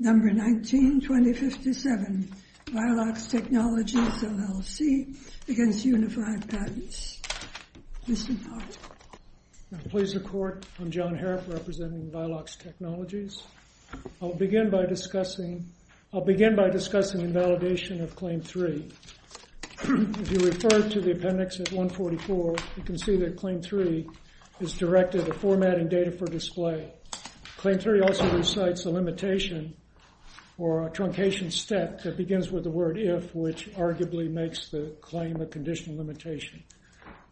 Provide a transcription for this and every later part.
Number 19-2057, Violox Technologies, LLC against Unified Patents. Mr. Hart. Please the Court, I'm John Harreff representing Violox Technologies. I'll begin by discussing invalidation of Claim 3. If you refer to the appendix at 144, you can see that Claim 3 is directed at formatting data for display. Claim 3 also recites a limitation or a truncation step that begins with the word if, which arguably makes the claim a conditional limitation.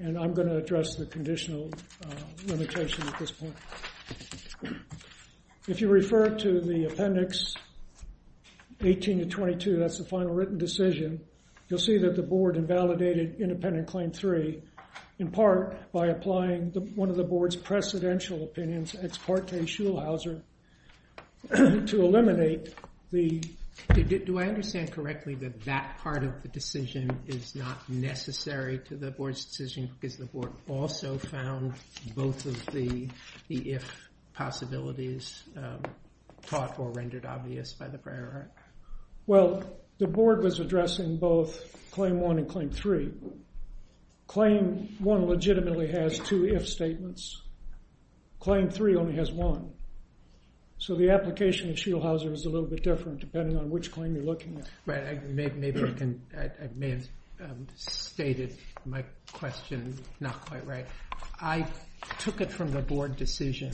And I'm going to address the conditional limitation at this point. If you refer to the appendix 18-22, that's the final written decision, you'll see that the Board invalidated independent Claim 3, in part by applying one of the Board's precedential opinions, ex parte Schulhauser, to eliminate the... Do I understand correctly that that part of the decision is not necessary to the Board's decision because the Board also found both of the if possibilities taught or rendered obvious by the prior art? Well, the Board was addressing both Claim 1 and Claim 3. Claim 1 legitimately has two if statements. Claim 3 only has one. So the application of Schulhauser is a little bit different depending on which claim you're looking at. Right, I may have stated my question not quite right. I took it from the Board decision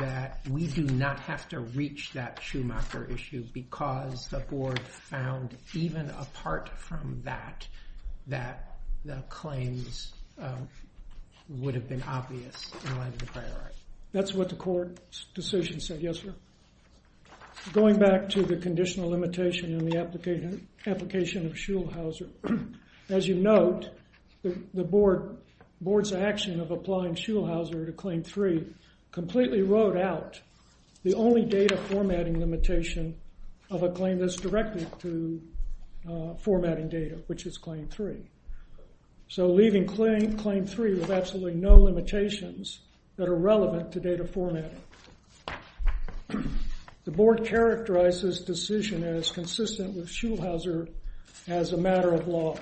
that we do not have to reach that Schumacher issue because the Board found, even apart from that, that the claims would have been obvious in light of the prior art. That's what the Court's decision said, yes, sir. Going back to the conditional limitation in the application of Schulhauser, as you note, the Board's action of applying Schulhauser to Claim 3 completely wrote out the only data formatting limitation of a claim that's directed to formatting data, which is Claim 3. So leaving Claim 3 with absolutely no limitations that are relevant to data formatting. The Board characterized this decision as consistent with Schulhauser as a matter of law.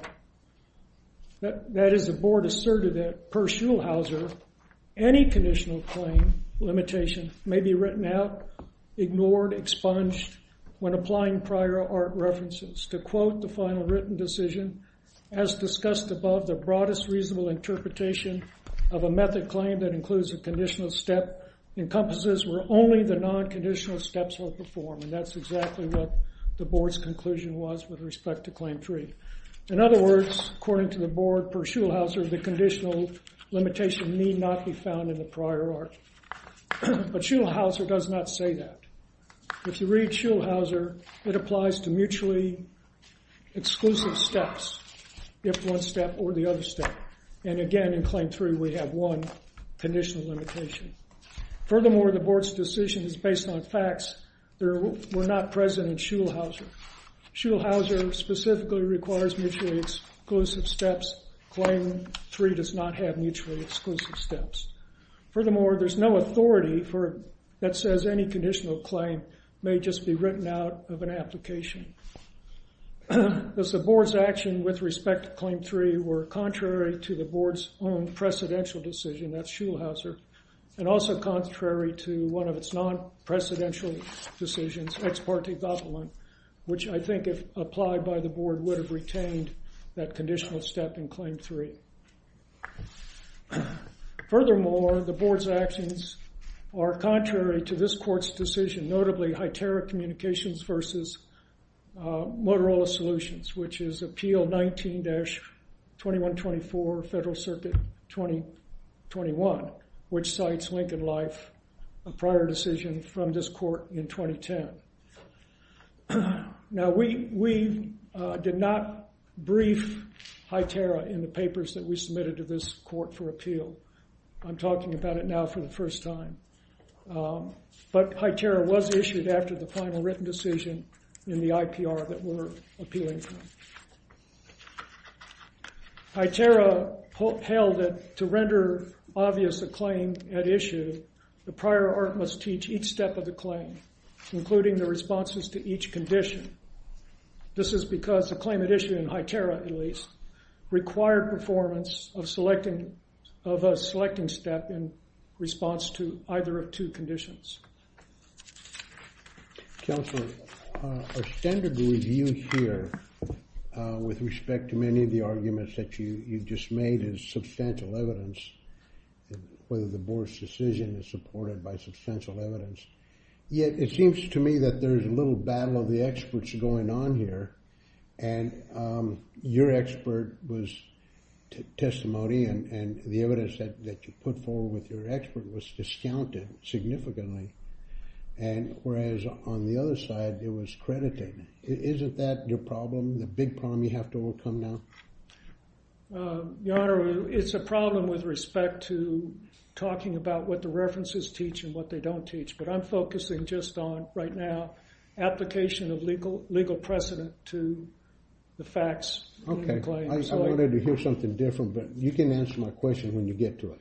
That is, the Board asserted that, per Schulhauser, any conditional claim limitation may be written out, ignored, expunged when applying prior art references. To quote the final written decision, as discussed above, the broadest reasonable interpretation of a method claim that includes a conditional step encompasses where only the non-conditional steps will perform. And that's exactly what the Board's conclusion was with respect to Claim 3. In other words, according to the Board, per Schulhauser, the conditional limitation need not be found in the prior art. But Schulhauser does not say that. If you read Schulhauser, it applies to mutually exclusive steps, if one step or the other step. And again, in Claim 3, we have one conditional limitation. Furthermore, the Board's decision is based on facts that were not present in Schulhauser. Schulhauser specifically requires mutually exclusive steps. Claim 3 does not have mutually exclusive steps. Furthermore, there's no authority that says any conditional claim may just be written out of an application. The Board's actions with respect to Claim 3 were contrary to the Board's own precedential decision, that's Schulhauser, and also contrary to one of its non-precedential decisions, ex parte doppelung, which I think if applied by the Board would have retained that conditional step in Claim 3. Furthermore, the Board's actions are contrary to this court's decision, notably HITERA Communications versus Motorola Solutions, which is Appeal 19-2124, Federal Circuit 2021, which cites Lincoln Life, a prior decision from this court in 2010. Now, we did not brief HITERA in the papers that we submitted to this court for appeal. I'm talking about it now for the first time. But HITERA was issued after the final written decision in the IPR that we're appealing from. HITERA held that to render obvious a claim at issue, the prior art must teach each step of the claim, including the responses to each condition. This is because a claim at issue in HITERA, at least, required performance of a selecting step in response to either of two conditions. Counselor, a standard review here with respect to many of the arguments that you just made is substantial evidence, whether the Board's decision is supported by substantial evidence. Yet it seems to me that there's a little battle of the experts going on here. And your expert was testimony, and the evidence that you put forward with your expert was discounted significantly. And whereas on the other side, it was credited. Isn't that your problem, the big problem you have to overcome now? Your Honor, it's a problem with respect to talking about what the references teach and what they don't teach. But I'm focusing just on, right now, application of legal precedent to the facts in the claim. I wanted to hear something different, but you can answer my question when you get to it.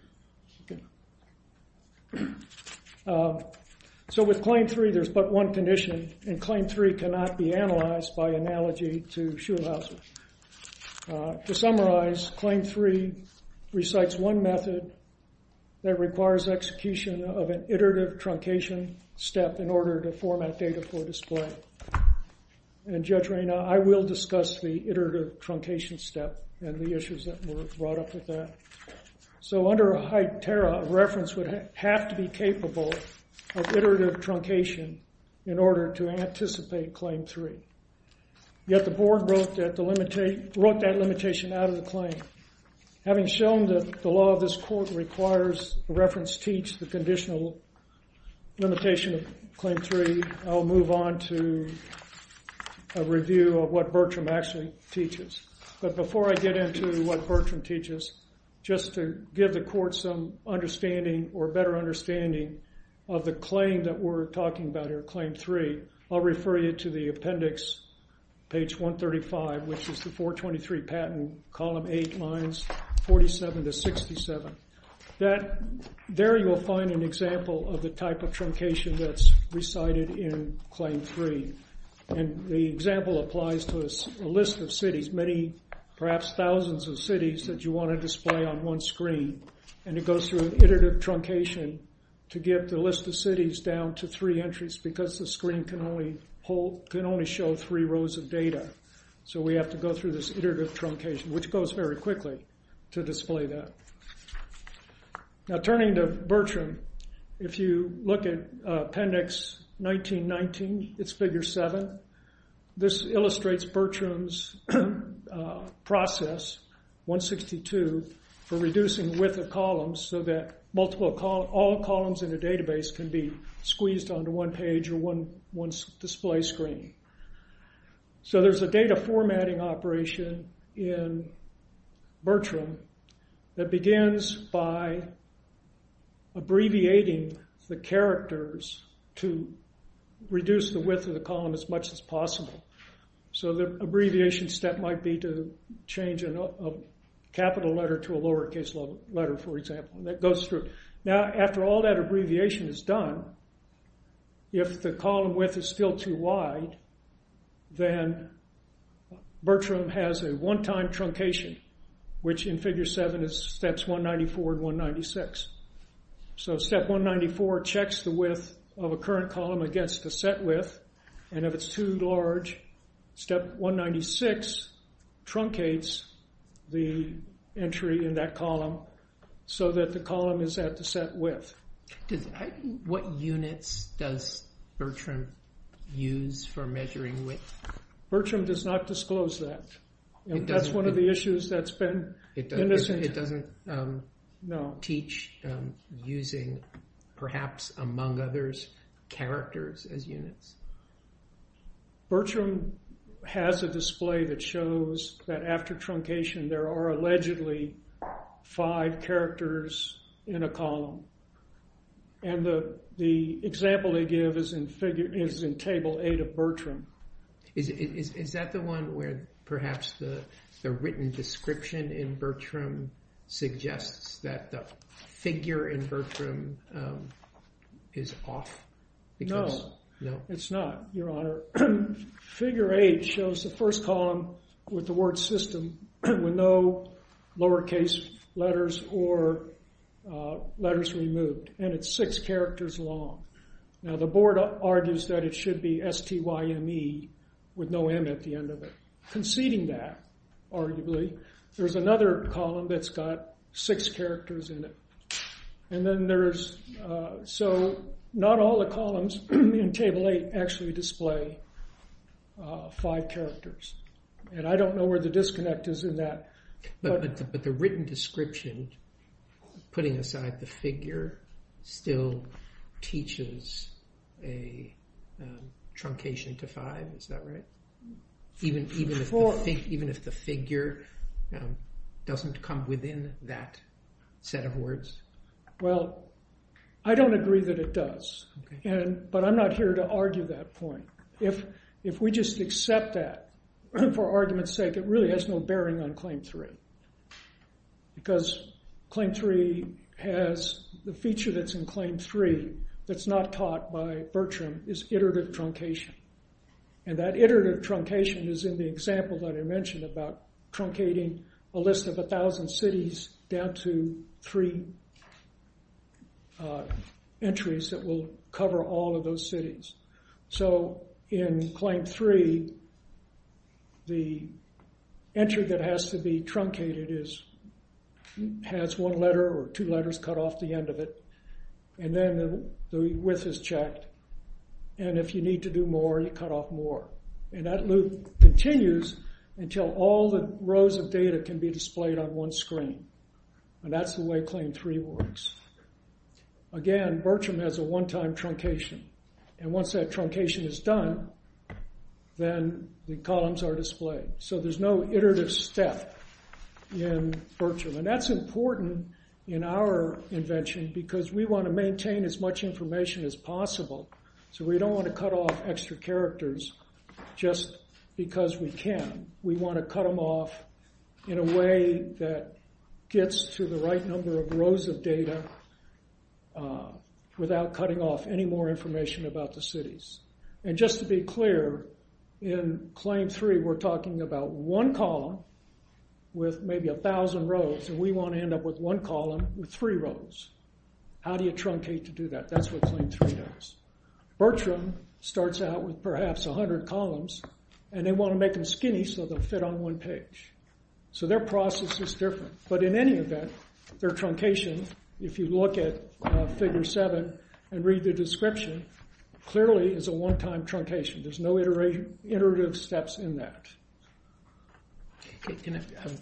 So with Claim 3, there's but one condition, and Claim 3 cannot be analyzed by analogy to Schulhausen. To summarize, Claim 3 recites one method that requires execution of an iterative truncation step in order to format data for display. And Judge Reyna, I will discuss the iterative truncation step and the issues that were brought up with that. So under HITERA, a reference would have to be capable of iterative truncation in order to anticipate Claim 3. Yet the board wrote that limitation out of the claim. Having shown that the law of this court requires the reference teach the conditional limitation of Claim 3, I'll move on to a review of what Bertram actually teaches. But before I get into what Bertram teaches, just to give the court some understanding or better understanding of the claim that we're talking about here, Claim 3, I'll refer you to the appendix, page 135, which is the 423 patent, column 8, lines 47 to 67. There you will find an example of the type of truncation that's recited in Claim 3. And the example applies to a list of cities, many, perhaps thousands of cities that you want to display on one screen. And it goes through an iterative truncation to get the list of cities down to three entries because the screen can only show three rows of data. So we have to go through this iterative truncation, which goes very quickly to display that. Now turning to Bertram, if you look at appendix 1919, it's figure 7. This illustrates Bertram's process, 162, for reducing width of columns so that all columns in a database can be squeezed onto one page or one display screen. So there's a data formatting operation in Bertram that begins by abbreviating the characters to reduce the width of the column as much as possible. So the abbreviation step might be to change a capital letter to a lowercase letter, for example. Now after all that abbreviation is done, if the column width is still too wide, then Bertram has a one-time truncation, which in figure 7 is steps 194 and 196. So step 194 checks the width of a current column against the set width. And if it's too large, step 196 truncates the entry in that column so that the column is at the set width. What units does Bertram use for measuring width? Bertram does not disclose that. That's one of the issues that's been... It doesn't teach using, perhaps among others, characters as units. Bertram has a display that shows that after truncation there are allegedly five characters in a column. And the example they give is in table 8 of Bertram. Is that the one where perhaps the written description in Bertram suggests that the figure in Bertram is off? No, it's not, Your Honor. Figure 8 shows the first column with the word system with no lowercase letters or letters removed. And it's six characters long. Now, the board argues that it should be S-T-Y-M-E with no M at the end of it. Conceding that, arguably, there's another column that's got six characters in it. And then there's... So not all the columns in table 8 actually display five characters. And I don't know where the disconnect is in that. But the written description, putting aside the figure, still teaches a truncation to five. Is that right? Even if the figure doesn't come within that set of words? Well, I don't agree that it does. But I'm not here to argue that point. If we just accept that for argument's sake, it really has no bearing on Claim 3. Because Claim 3 has... The feature that's in Claim 3 that's not taught by Bertram is iterative truncation. And that iterative truncation is in the example that I mentioned about truncating a list of a thousand cities down to three entries that will cover all of those cities. So in Claim 3, the entry that has to be truncated has one letter or two letters cut off the end of it. And then the width is checked. And if you need to do more, you cut off more. And that loop continues until all the rows of data can be displayed on one screen. And that's the way Claim 3 works. Again, Bertram has a one-time truncation. And once that truncation is done, then the columns are displayed. So there's no iterative step in Bertram. And that's important in our invention because we want to maintain as much information as possible. So we don't want to cut off extra characters just because we can. We want to cut them off in a way that gets to the right number of rows of data without cutting off any more information about the cities. And just to be clear, in Claim 3, we're talking about one column with maybe a thousand rows. And we want to end up with one column with three rows. How do you truncate to do that? That's what Claim 3 does. Bertram starts out with perhaps 100 columns. And they want to make them skinny so they'll fit on one page. So their process is different. But in any event, their truncation, if you look at Figure 7 and read the description, clearly is a one-time truncation. There's no iterative steps in that.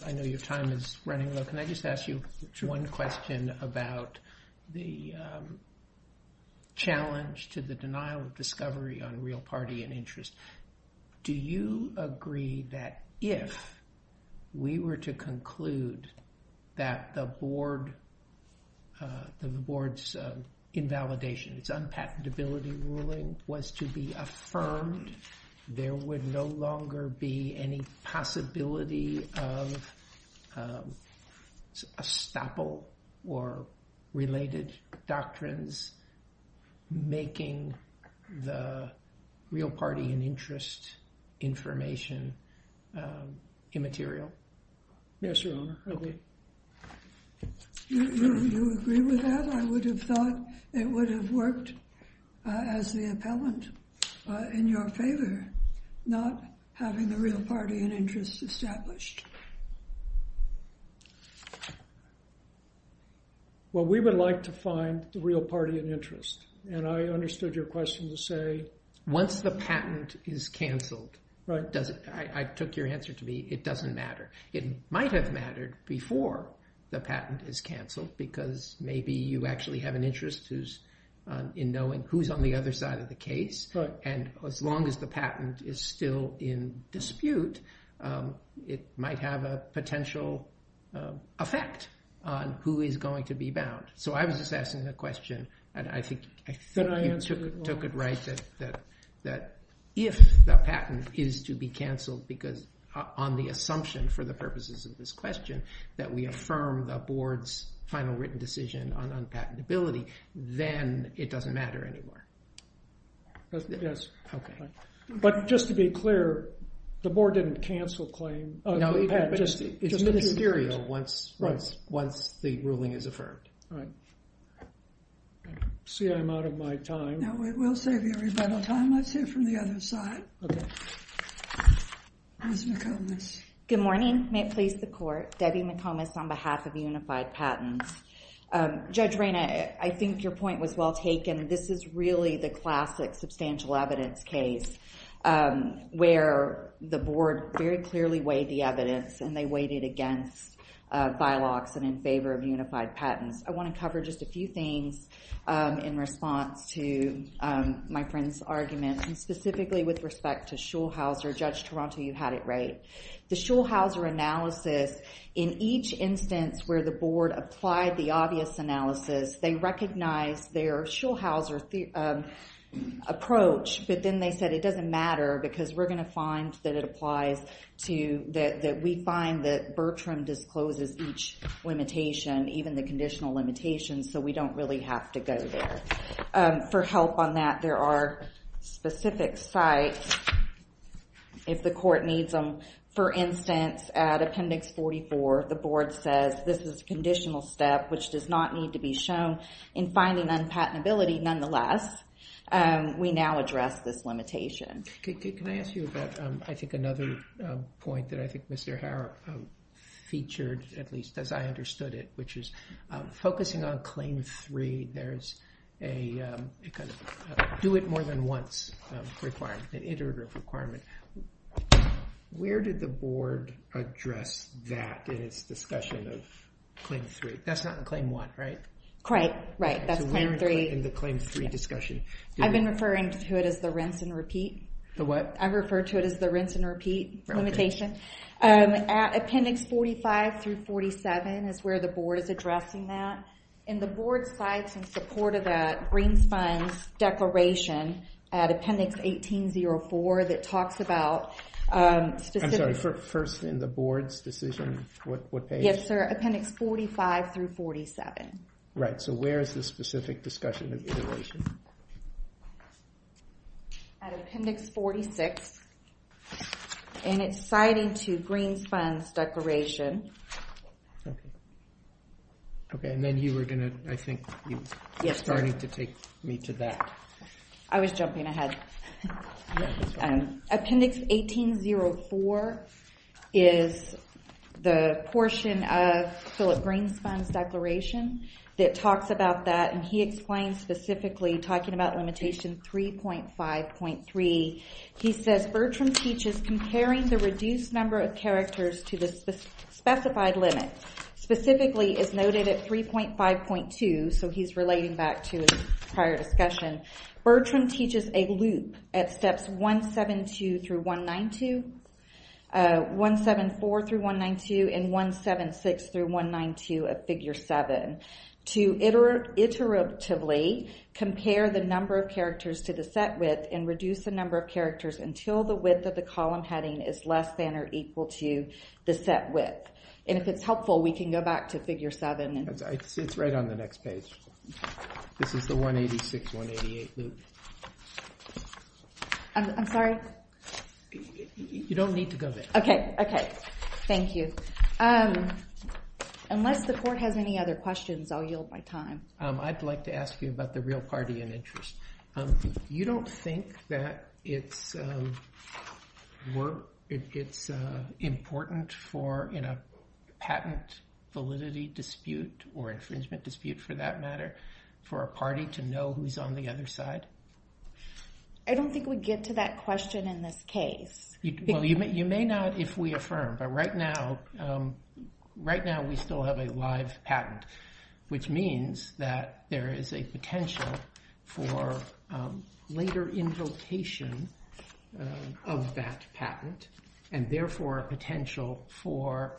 I know your time is running low. Can I just ask you one question about the challenge to the denial of discovery on real party and interest? Do you agree that if we were to conclude that the board's invalidation, its unpatentability ruling was to be affirmed, there would no longer be any possibility of estoppel or related doctrines making the real party and interest information immaterial? Yes, Your Honor. Okay. Do you agree with that? I would have thought it would have worked as the appellant in your favor, not having the real party and interest established. Well, we would like to find the real party and interest. And I understood your question to say? Once the patent is canceled, I took your answer to me, it doesn't matter. It might have mattered before the patent is canceled because maybe you actually have an interest in knowing who's on the other side of the case. And as long as the patent is still in dispute, it might have a potential effect on who is going to be bound. So I was just asking the question, and I think you took it right that if the patent is to be canceled because on the assumption for the purposes of this question that we affirm the board's final written decision on unpatentability, then it doesn't matter anymore. Yes. Okay. But just to be clear, the board didn't cancel claim. No, it's ministerial once the ruling is affirmed. All right. See, I'm out of my time. We'll save you a little time. Let's hear from the other side. Okay. Ms. McComas. Good morning. May it please the court. Debbie McComas on behalf of Unified Patents. Judge Rayna, I think your point was well taken. This is really the classic substantial evidence case where the board very clearly weighed the evidence, and they weighed it against bylaws and in favor of Unified Patents. I want to cover just a few things in response to my friend's argument, and specifically with respect to Schulhauser. Judge Toronto, you had it right. The Schulhauser analysis, in each instance where the board applied the obvious analysis, they recognized their Schulhauser approach, but then they said, it doesn't matter because we're going to find that it applies to that we find that Bertram discloses each limitation, even the conditional limitations, so we don't really have to go there. For help on that, there are specific sites if the court needs them. For instance, at Appendix 44, the board says this is a conditional step which does not need to be shown in finding unpatentability, nonetheless. We now address this limitation. Can I ask you about, I think, another point that I think Mr. Harrop featured, at least as I understood it, which is focusing on Claim 3. There's a do it more than once requirement, an iterative requirement. Where did the board address that in its discussion of Claim 3? That's not in Claim 1, right? Right, that's Claim 3. In the Claim 3 discussion. I've been referring to it as the rinse and repeat. The what? I refer to it as the rinse and repeat limitation. At Appendix 45 through 47 is where the board is addressing that. In the board's slides in support of that, Greens Fund's declaration at Appendix 1804 that talks about specific... I'm sorry, first in the board's decision, what page? Yes, sir, Appendix 45 through 47. Right, so where is the specific discussion of iteration? At Appendix 46, and it's citing to Greens Fund's declaration. Okay, and then you were going to, I think, you were starting to take me to that. I was jumping ahead. Appendix 1804 is the portion of Philip Greens Fund's declaration that talks about that. And he explains specifically, talking about limitation 3.5.3. He says, Bertram teaches comparing the reduced number of characters to the specified limit. Specifically, it's noted at 3.5.2, so he's relating back to his prior discussion. Bertram teaches a loop at steps 172 through 192, 174 through 192, and 176 through 192 of Figure 7. To iteratively compare the number of characters to the set width and reduce the number of characters until the width of the column heading is less than or equal to the set width. And if it's helpful, we can go back to Figure 7. It's right on the next page. This is the 186, 188 loop. I'm sorry? You don't need to go there. Okay, okay. Thank you. Unless the court has any other questions, I'll yield my time. I'd like to ask you about the real party in interest. You don't think that it's important in a patent validity dispute, or infringement dispute for that matter, for a party to know who's on the other side? I don't think we get to that question in this case. You may not if we affirm, but right now we still have a live patent, which means that there is a potential for later invocation of that patent, and therefore a potential for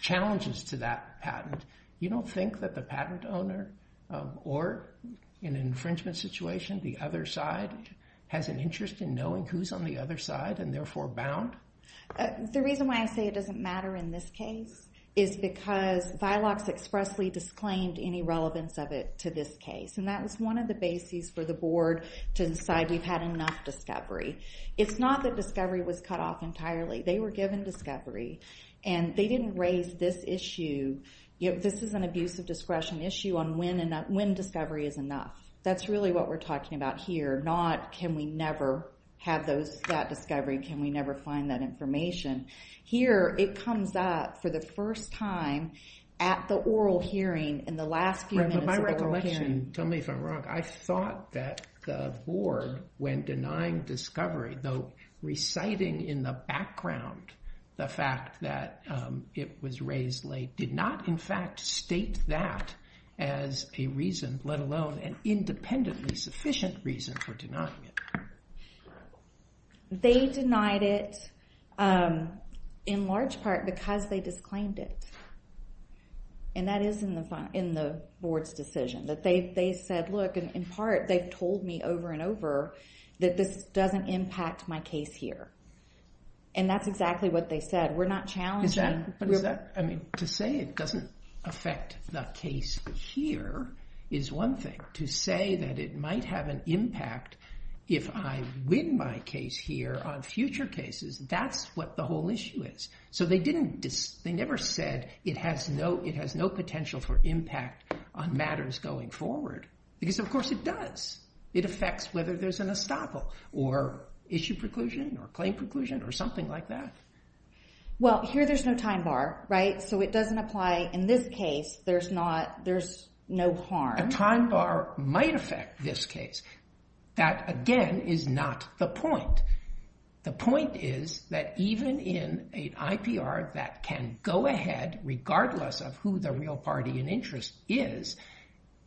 challenges to that patent. You don't think that the patent owner, or in an infringement situation, the other side, has an interest in knowing who's on the other side, and therefore bound? The reason why I say it doesn't matter in this case is because VILOX expressly disclaimed any relevance of it to this case, and that was one of the bases for the board to decide we've had enough discovery. It's not that discovery was cut off entirely. They were given discovery, and they didn't raise this issue. This is an abuse of discretion issue on when discovery is enough. That's really what we're talking about here, not can we never have that discovery, can we never find that information. Here it comes up for the first time at the oral hearing, in the last few minutes of the oral hearing. Tell me if I'm wrong. I thought that the board, when denying discovery, though reciting in the background the fact that it was raised late, did not in fact state that as a reason, let alone an independently sufficient reason for denying it. They denied it in large part because they disclaimed it, and that is in the board's decision. They said, look, in part they've told me over and over that this doesn't impact my case here, and that's exactly what they said. We're not challenging. To say it doesn't affect the case here is one thing. To say that it might have an impact if I win my case here on future cases, that's what the whole issue is. So they never said it has no potential for impact on matters going forward, because of course it does. It affects whether there's an estoppel, or issue preclusion, or claim preclusion, or something like that. Well, here there's no time bar, right? So it doesn't apply in this case. There's no harm. A time bar might affect this case. That, again, is not the point. The point is that even in an IPR that can go ahead, regardless of who the real party in interest is,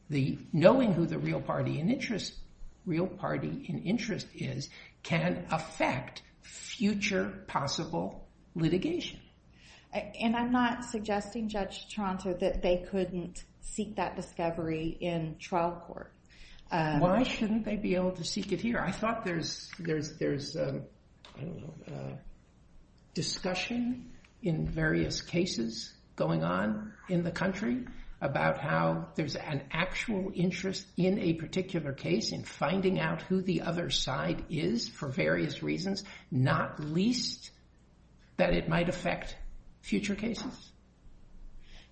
knowing who the real party in interest is can affect future possible litigation. And I'm not suggesting, Judge Toronto, that they couldn't seek that discovery in trial court. Why shouldn't they be able to seek it here? I thought there's, I don't know, discussion in various cases going on in the country about how there's an actual interest in a particular case in finding out who the other side is for various reasons, not least that it might affect future cases.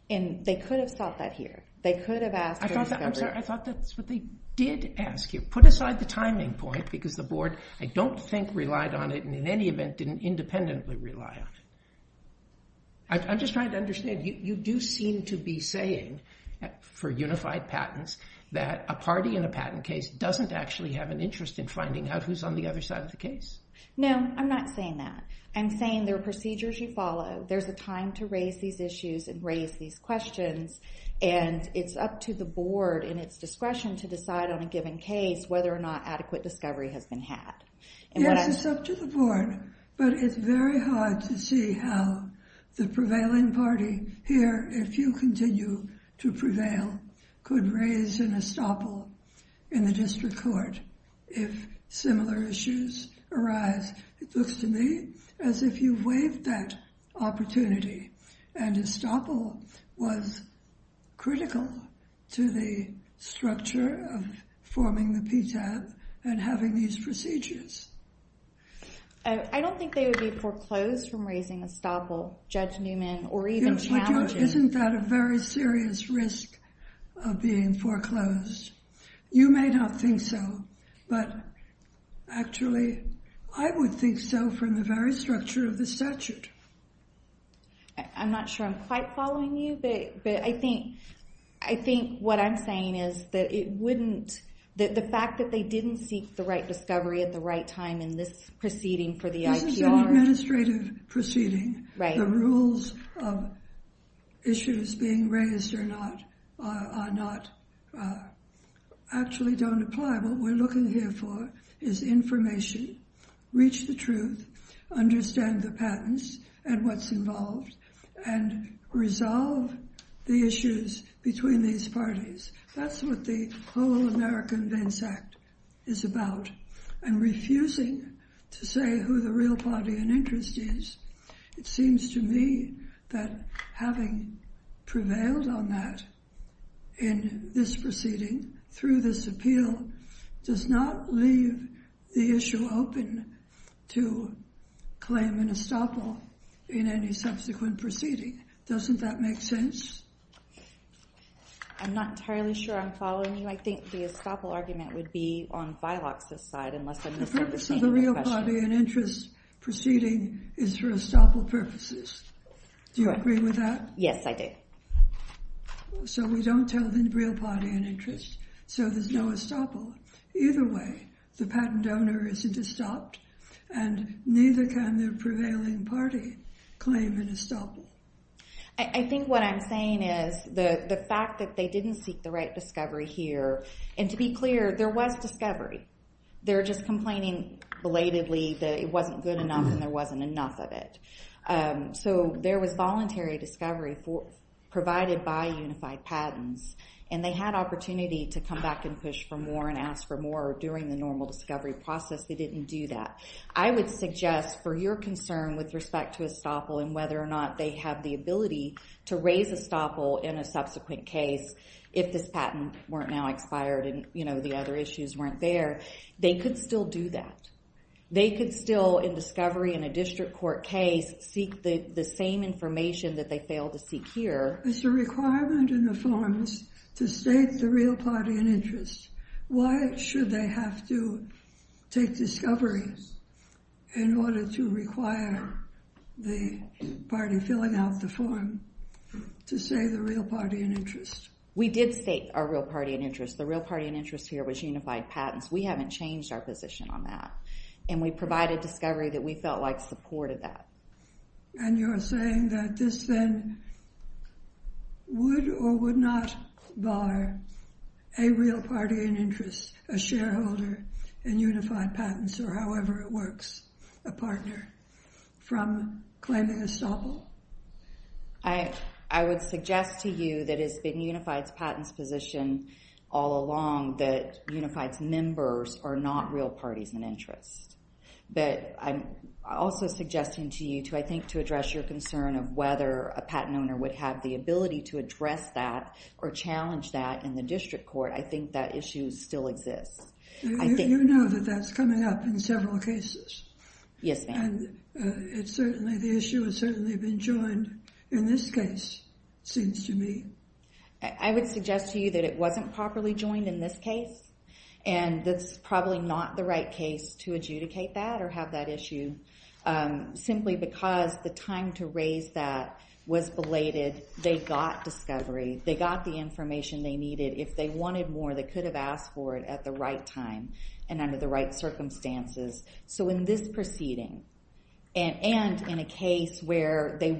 And they could have sought that here. They could have asked for a discovery. I'm sorry, I thought that's what they did ask you. Put aside the timing point, because the board, I don't think, relied on it, and in any event didn't independently rely on it. I'm just trying to understand. You do seem to be saying, for unified patents, that a party in a patent case doesn't actually have an interest in finding out who's on the other side of the case. No, I'm not saying that. I'm saying there are procedures you follow. There's a time to raise these issues and raise these questions, and it's up to the board and its discretion to decide on a given case whether or not adequate discovery has been had. Yes, it's up to the board, but it's very hard to see how the prevailing party here, if you continue to prevail, could raise an estoppel in the district court if similar issues arise. It looks to me as if you've waived that opportunity, and estoppel was critical to the structure of forming the PTAB and having these procedures. I don't think they would be foreclosed from raising estoppel, Judge Newman, or even challenges. Isn't that a very serious risk of being foreclosed? You may not think so, but actually I would think so from the very structure of the statute. I'm not sure I'm quite following you, but I think what I'm saying is that it wouldn't... The fact that they didn't seek the right discovery at the right time in this proceeding for the IPR... This is an administrative proceeding. The rules of issues being raised are not... actually don't apply. What we're looking here for is information, reach the truth, understand the patents and what's involved, and resolve the issues between these parties. That's what the whole American Vince Act is about. And refusing to say who the real party in interest is it seems to me that having prevailed on that in this proceeding through this appeal does not leave the issue open to claim an estoppel in any subsequent proceeding. Doesn't that make sense? I'm not entirely sure I'm following you. I think the estoppel argument would be on Bylock's side unless I'm misunderstanding the question. The purpose of the real party in interest proceeding is for estoppel purposes. Do you agree with that? Yes, I do. So we don't tell the real party in interest so there's no estoppel. Either way, the patent owner isn't estopped and neither can the prevailing party claim an estoppel. I think what I'm saying is the fact that they didn't seek the right discovery here... And to be clear, there was discovery. They're just complaining belatedly that it wasn't good enough and there wasn't enough of it. So there was voluntary discovery provided by unified patents and they had opportunity to come back and push for more and ask for more during the normal discovery process. They didn't do that. I would suggest for your concern with respect to estoppel and whether or not they have the ability to raise estoppel in a subsequent case if this patent weren't now expired and the other issues weren't there, they could still do that. They could still, in discovery in a district court case, seek the same information that they failed to seek here. It's a requirement in the forms to state the real party in interest. Why should they have to take discovery in order to require the party filling out the form to say the real party in interest? We did state our real party in interest. The real party in interest here was unified patents. We haven't changed our position on that. And we provided discovery that we felt like supported that. And you're saying that this then would or would not bar a real party in interest, a shareholder in unified patents or however it works, a partner, from claiming estoppel? I would suggest to you that it's been unified patents' position all along that unified members are not real parties in interest. But I'm also suggesting to you to, I think, to address your concern of whether a patent owner would have the ability to address that or challenge that in the district court. I think that issue still exists. You know that that's coming up in several cases. Yes, ma'am. And it's certainly, the issue has certainly been joined in this case, it seems to me. I would suggest to you that it wasn't properly joined in this case. And that's probably not the right case to adjudicate that or have that issue, simply because the time to raise that was belated. They got discovery. They got the information they needed. If they wanted more, they could have asked for it at the right time and under the right circumstances. So in this proceeding, and in a case where they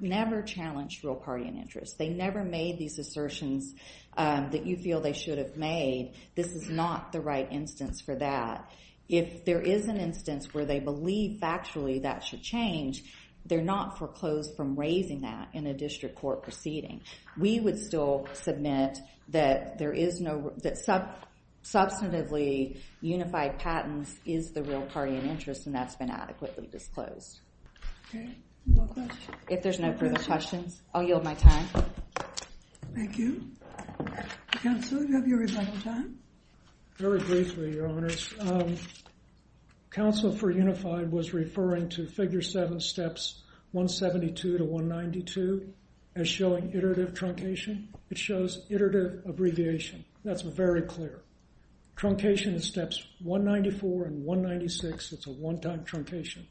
never challenged real party in interest, they never made these assertions that you feel they should have made, this is not the right instance for that. If there is an instance where they believe factually that should change, they're not foreclosed from raising that in a district court proceeding. We would still submit that there is no, that substantively unified patents is the real party in interest, and that's been adequately disclosed. OK. No questions. If there's no further questions, I'll yield my time. Thank you. Counsel, do you have your rebuttal time? Very briefly, Your Honors. Counsel for unified was referring to figure seven steps 172 to 192 as showing iterative truncation. It shows iterative abbreviation. That's very clear. Truncation is steps 194 and 196. It's a one-time truncation.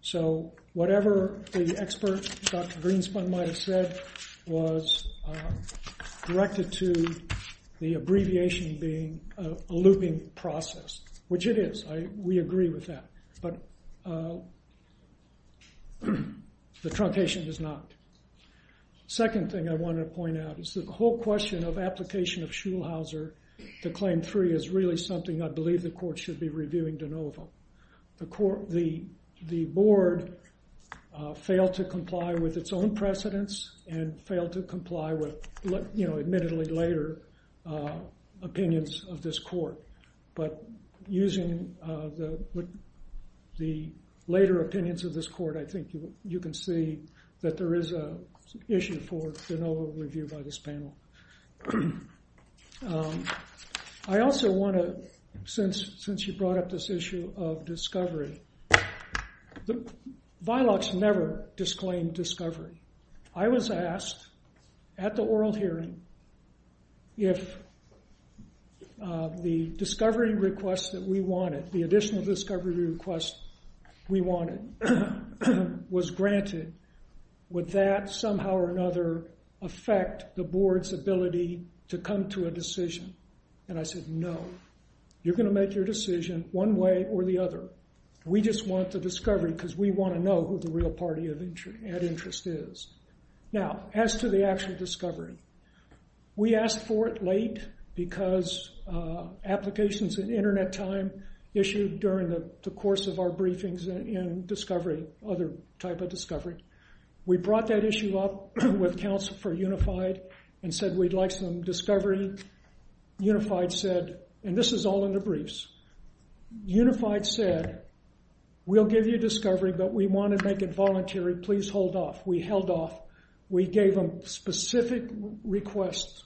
So whatever the expert, Dr. Greenspan, might have said was directed to the abbreviation being a looping process, which it is. We agree with that. But the truncation is not. Second thing I want to point out is the whole question of application of Schulhauser I believe the court should be reviewing de novo. The board failed to comply with its own precedents and failed to comply with admittedly later opinions of this court. But using the later opinions of this court, I think you can see that there is an issue for de novo review by this panel. I also want to, since you brought up this issue of discovery, the bylaws never disclaimed discovery. I was asked at the oral hearing if the discovery request that we wanted, the additional discovery request we wanted was granted, would that somehow or another affect the board's ability to come to a decision? And I said, no. You're going to make your decision one way or the other. We just want the discovery because we want to know who the real party of interest is. Now, as to the actual discovery, we asked for it late because applications in internet time issued during the course of our briefings in discovery, other type of discovery. We brought that issue up with counsel for Unified and said we'd like some discovery. Unified said, and this is all in the briefs, Unified said, we'll give you discovery, but we want to make it voluntary. Please hold off. We held off. We gave them specific requests,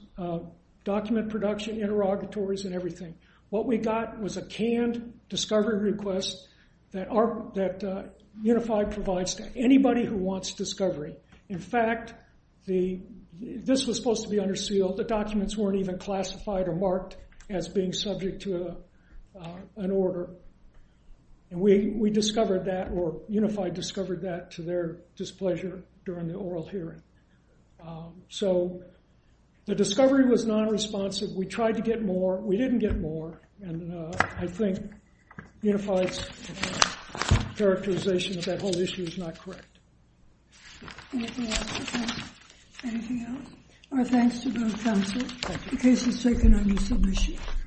document production, interrogatories, and everything. What we got was a canned discovery request that Unified provides to anybody who wants discovery. In fact, this was supposed to be under seal. The documents weren't even classified or marked as being subject to an order. And we discovered that, or Unified discovered that to their displeasure during the oral hearing. So the discovery was non-responsive. We tried to get more. We didn't get more. And I think Unified's characterization of that whole issue is not correct. Anything else? Anything else? Our thanks to both counsel. The case is taken on resubmission.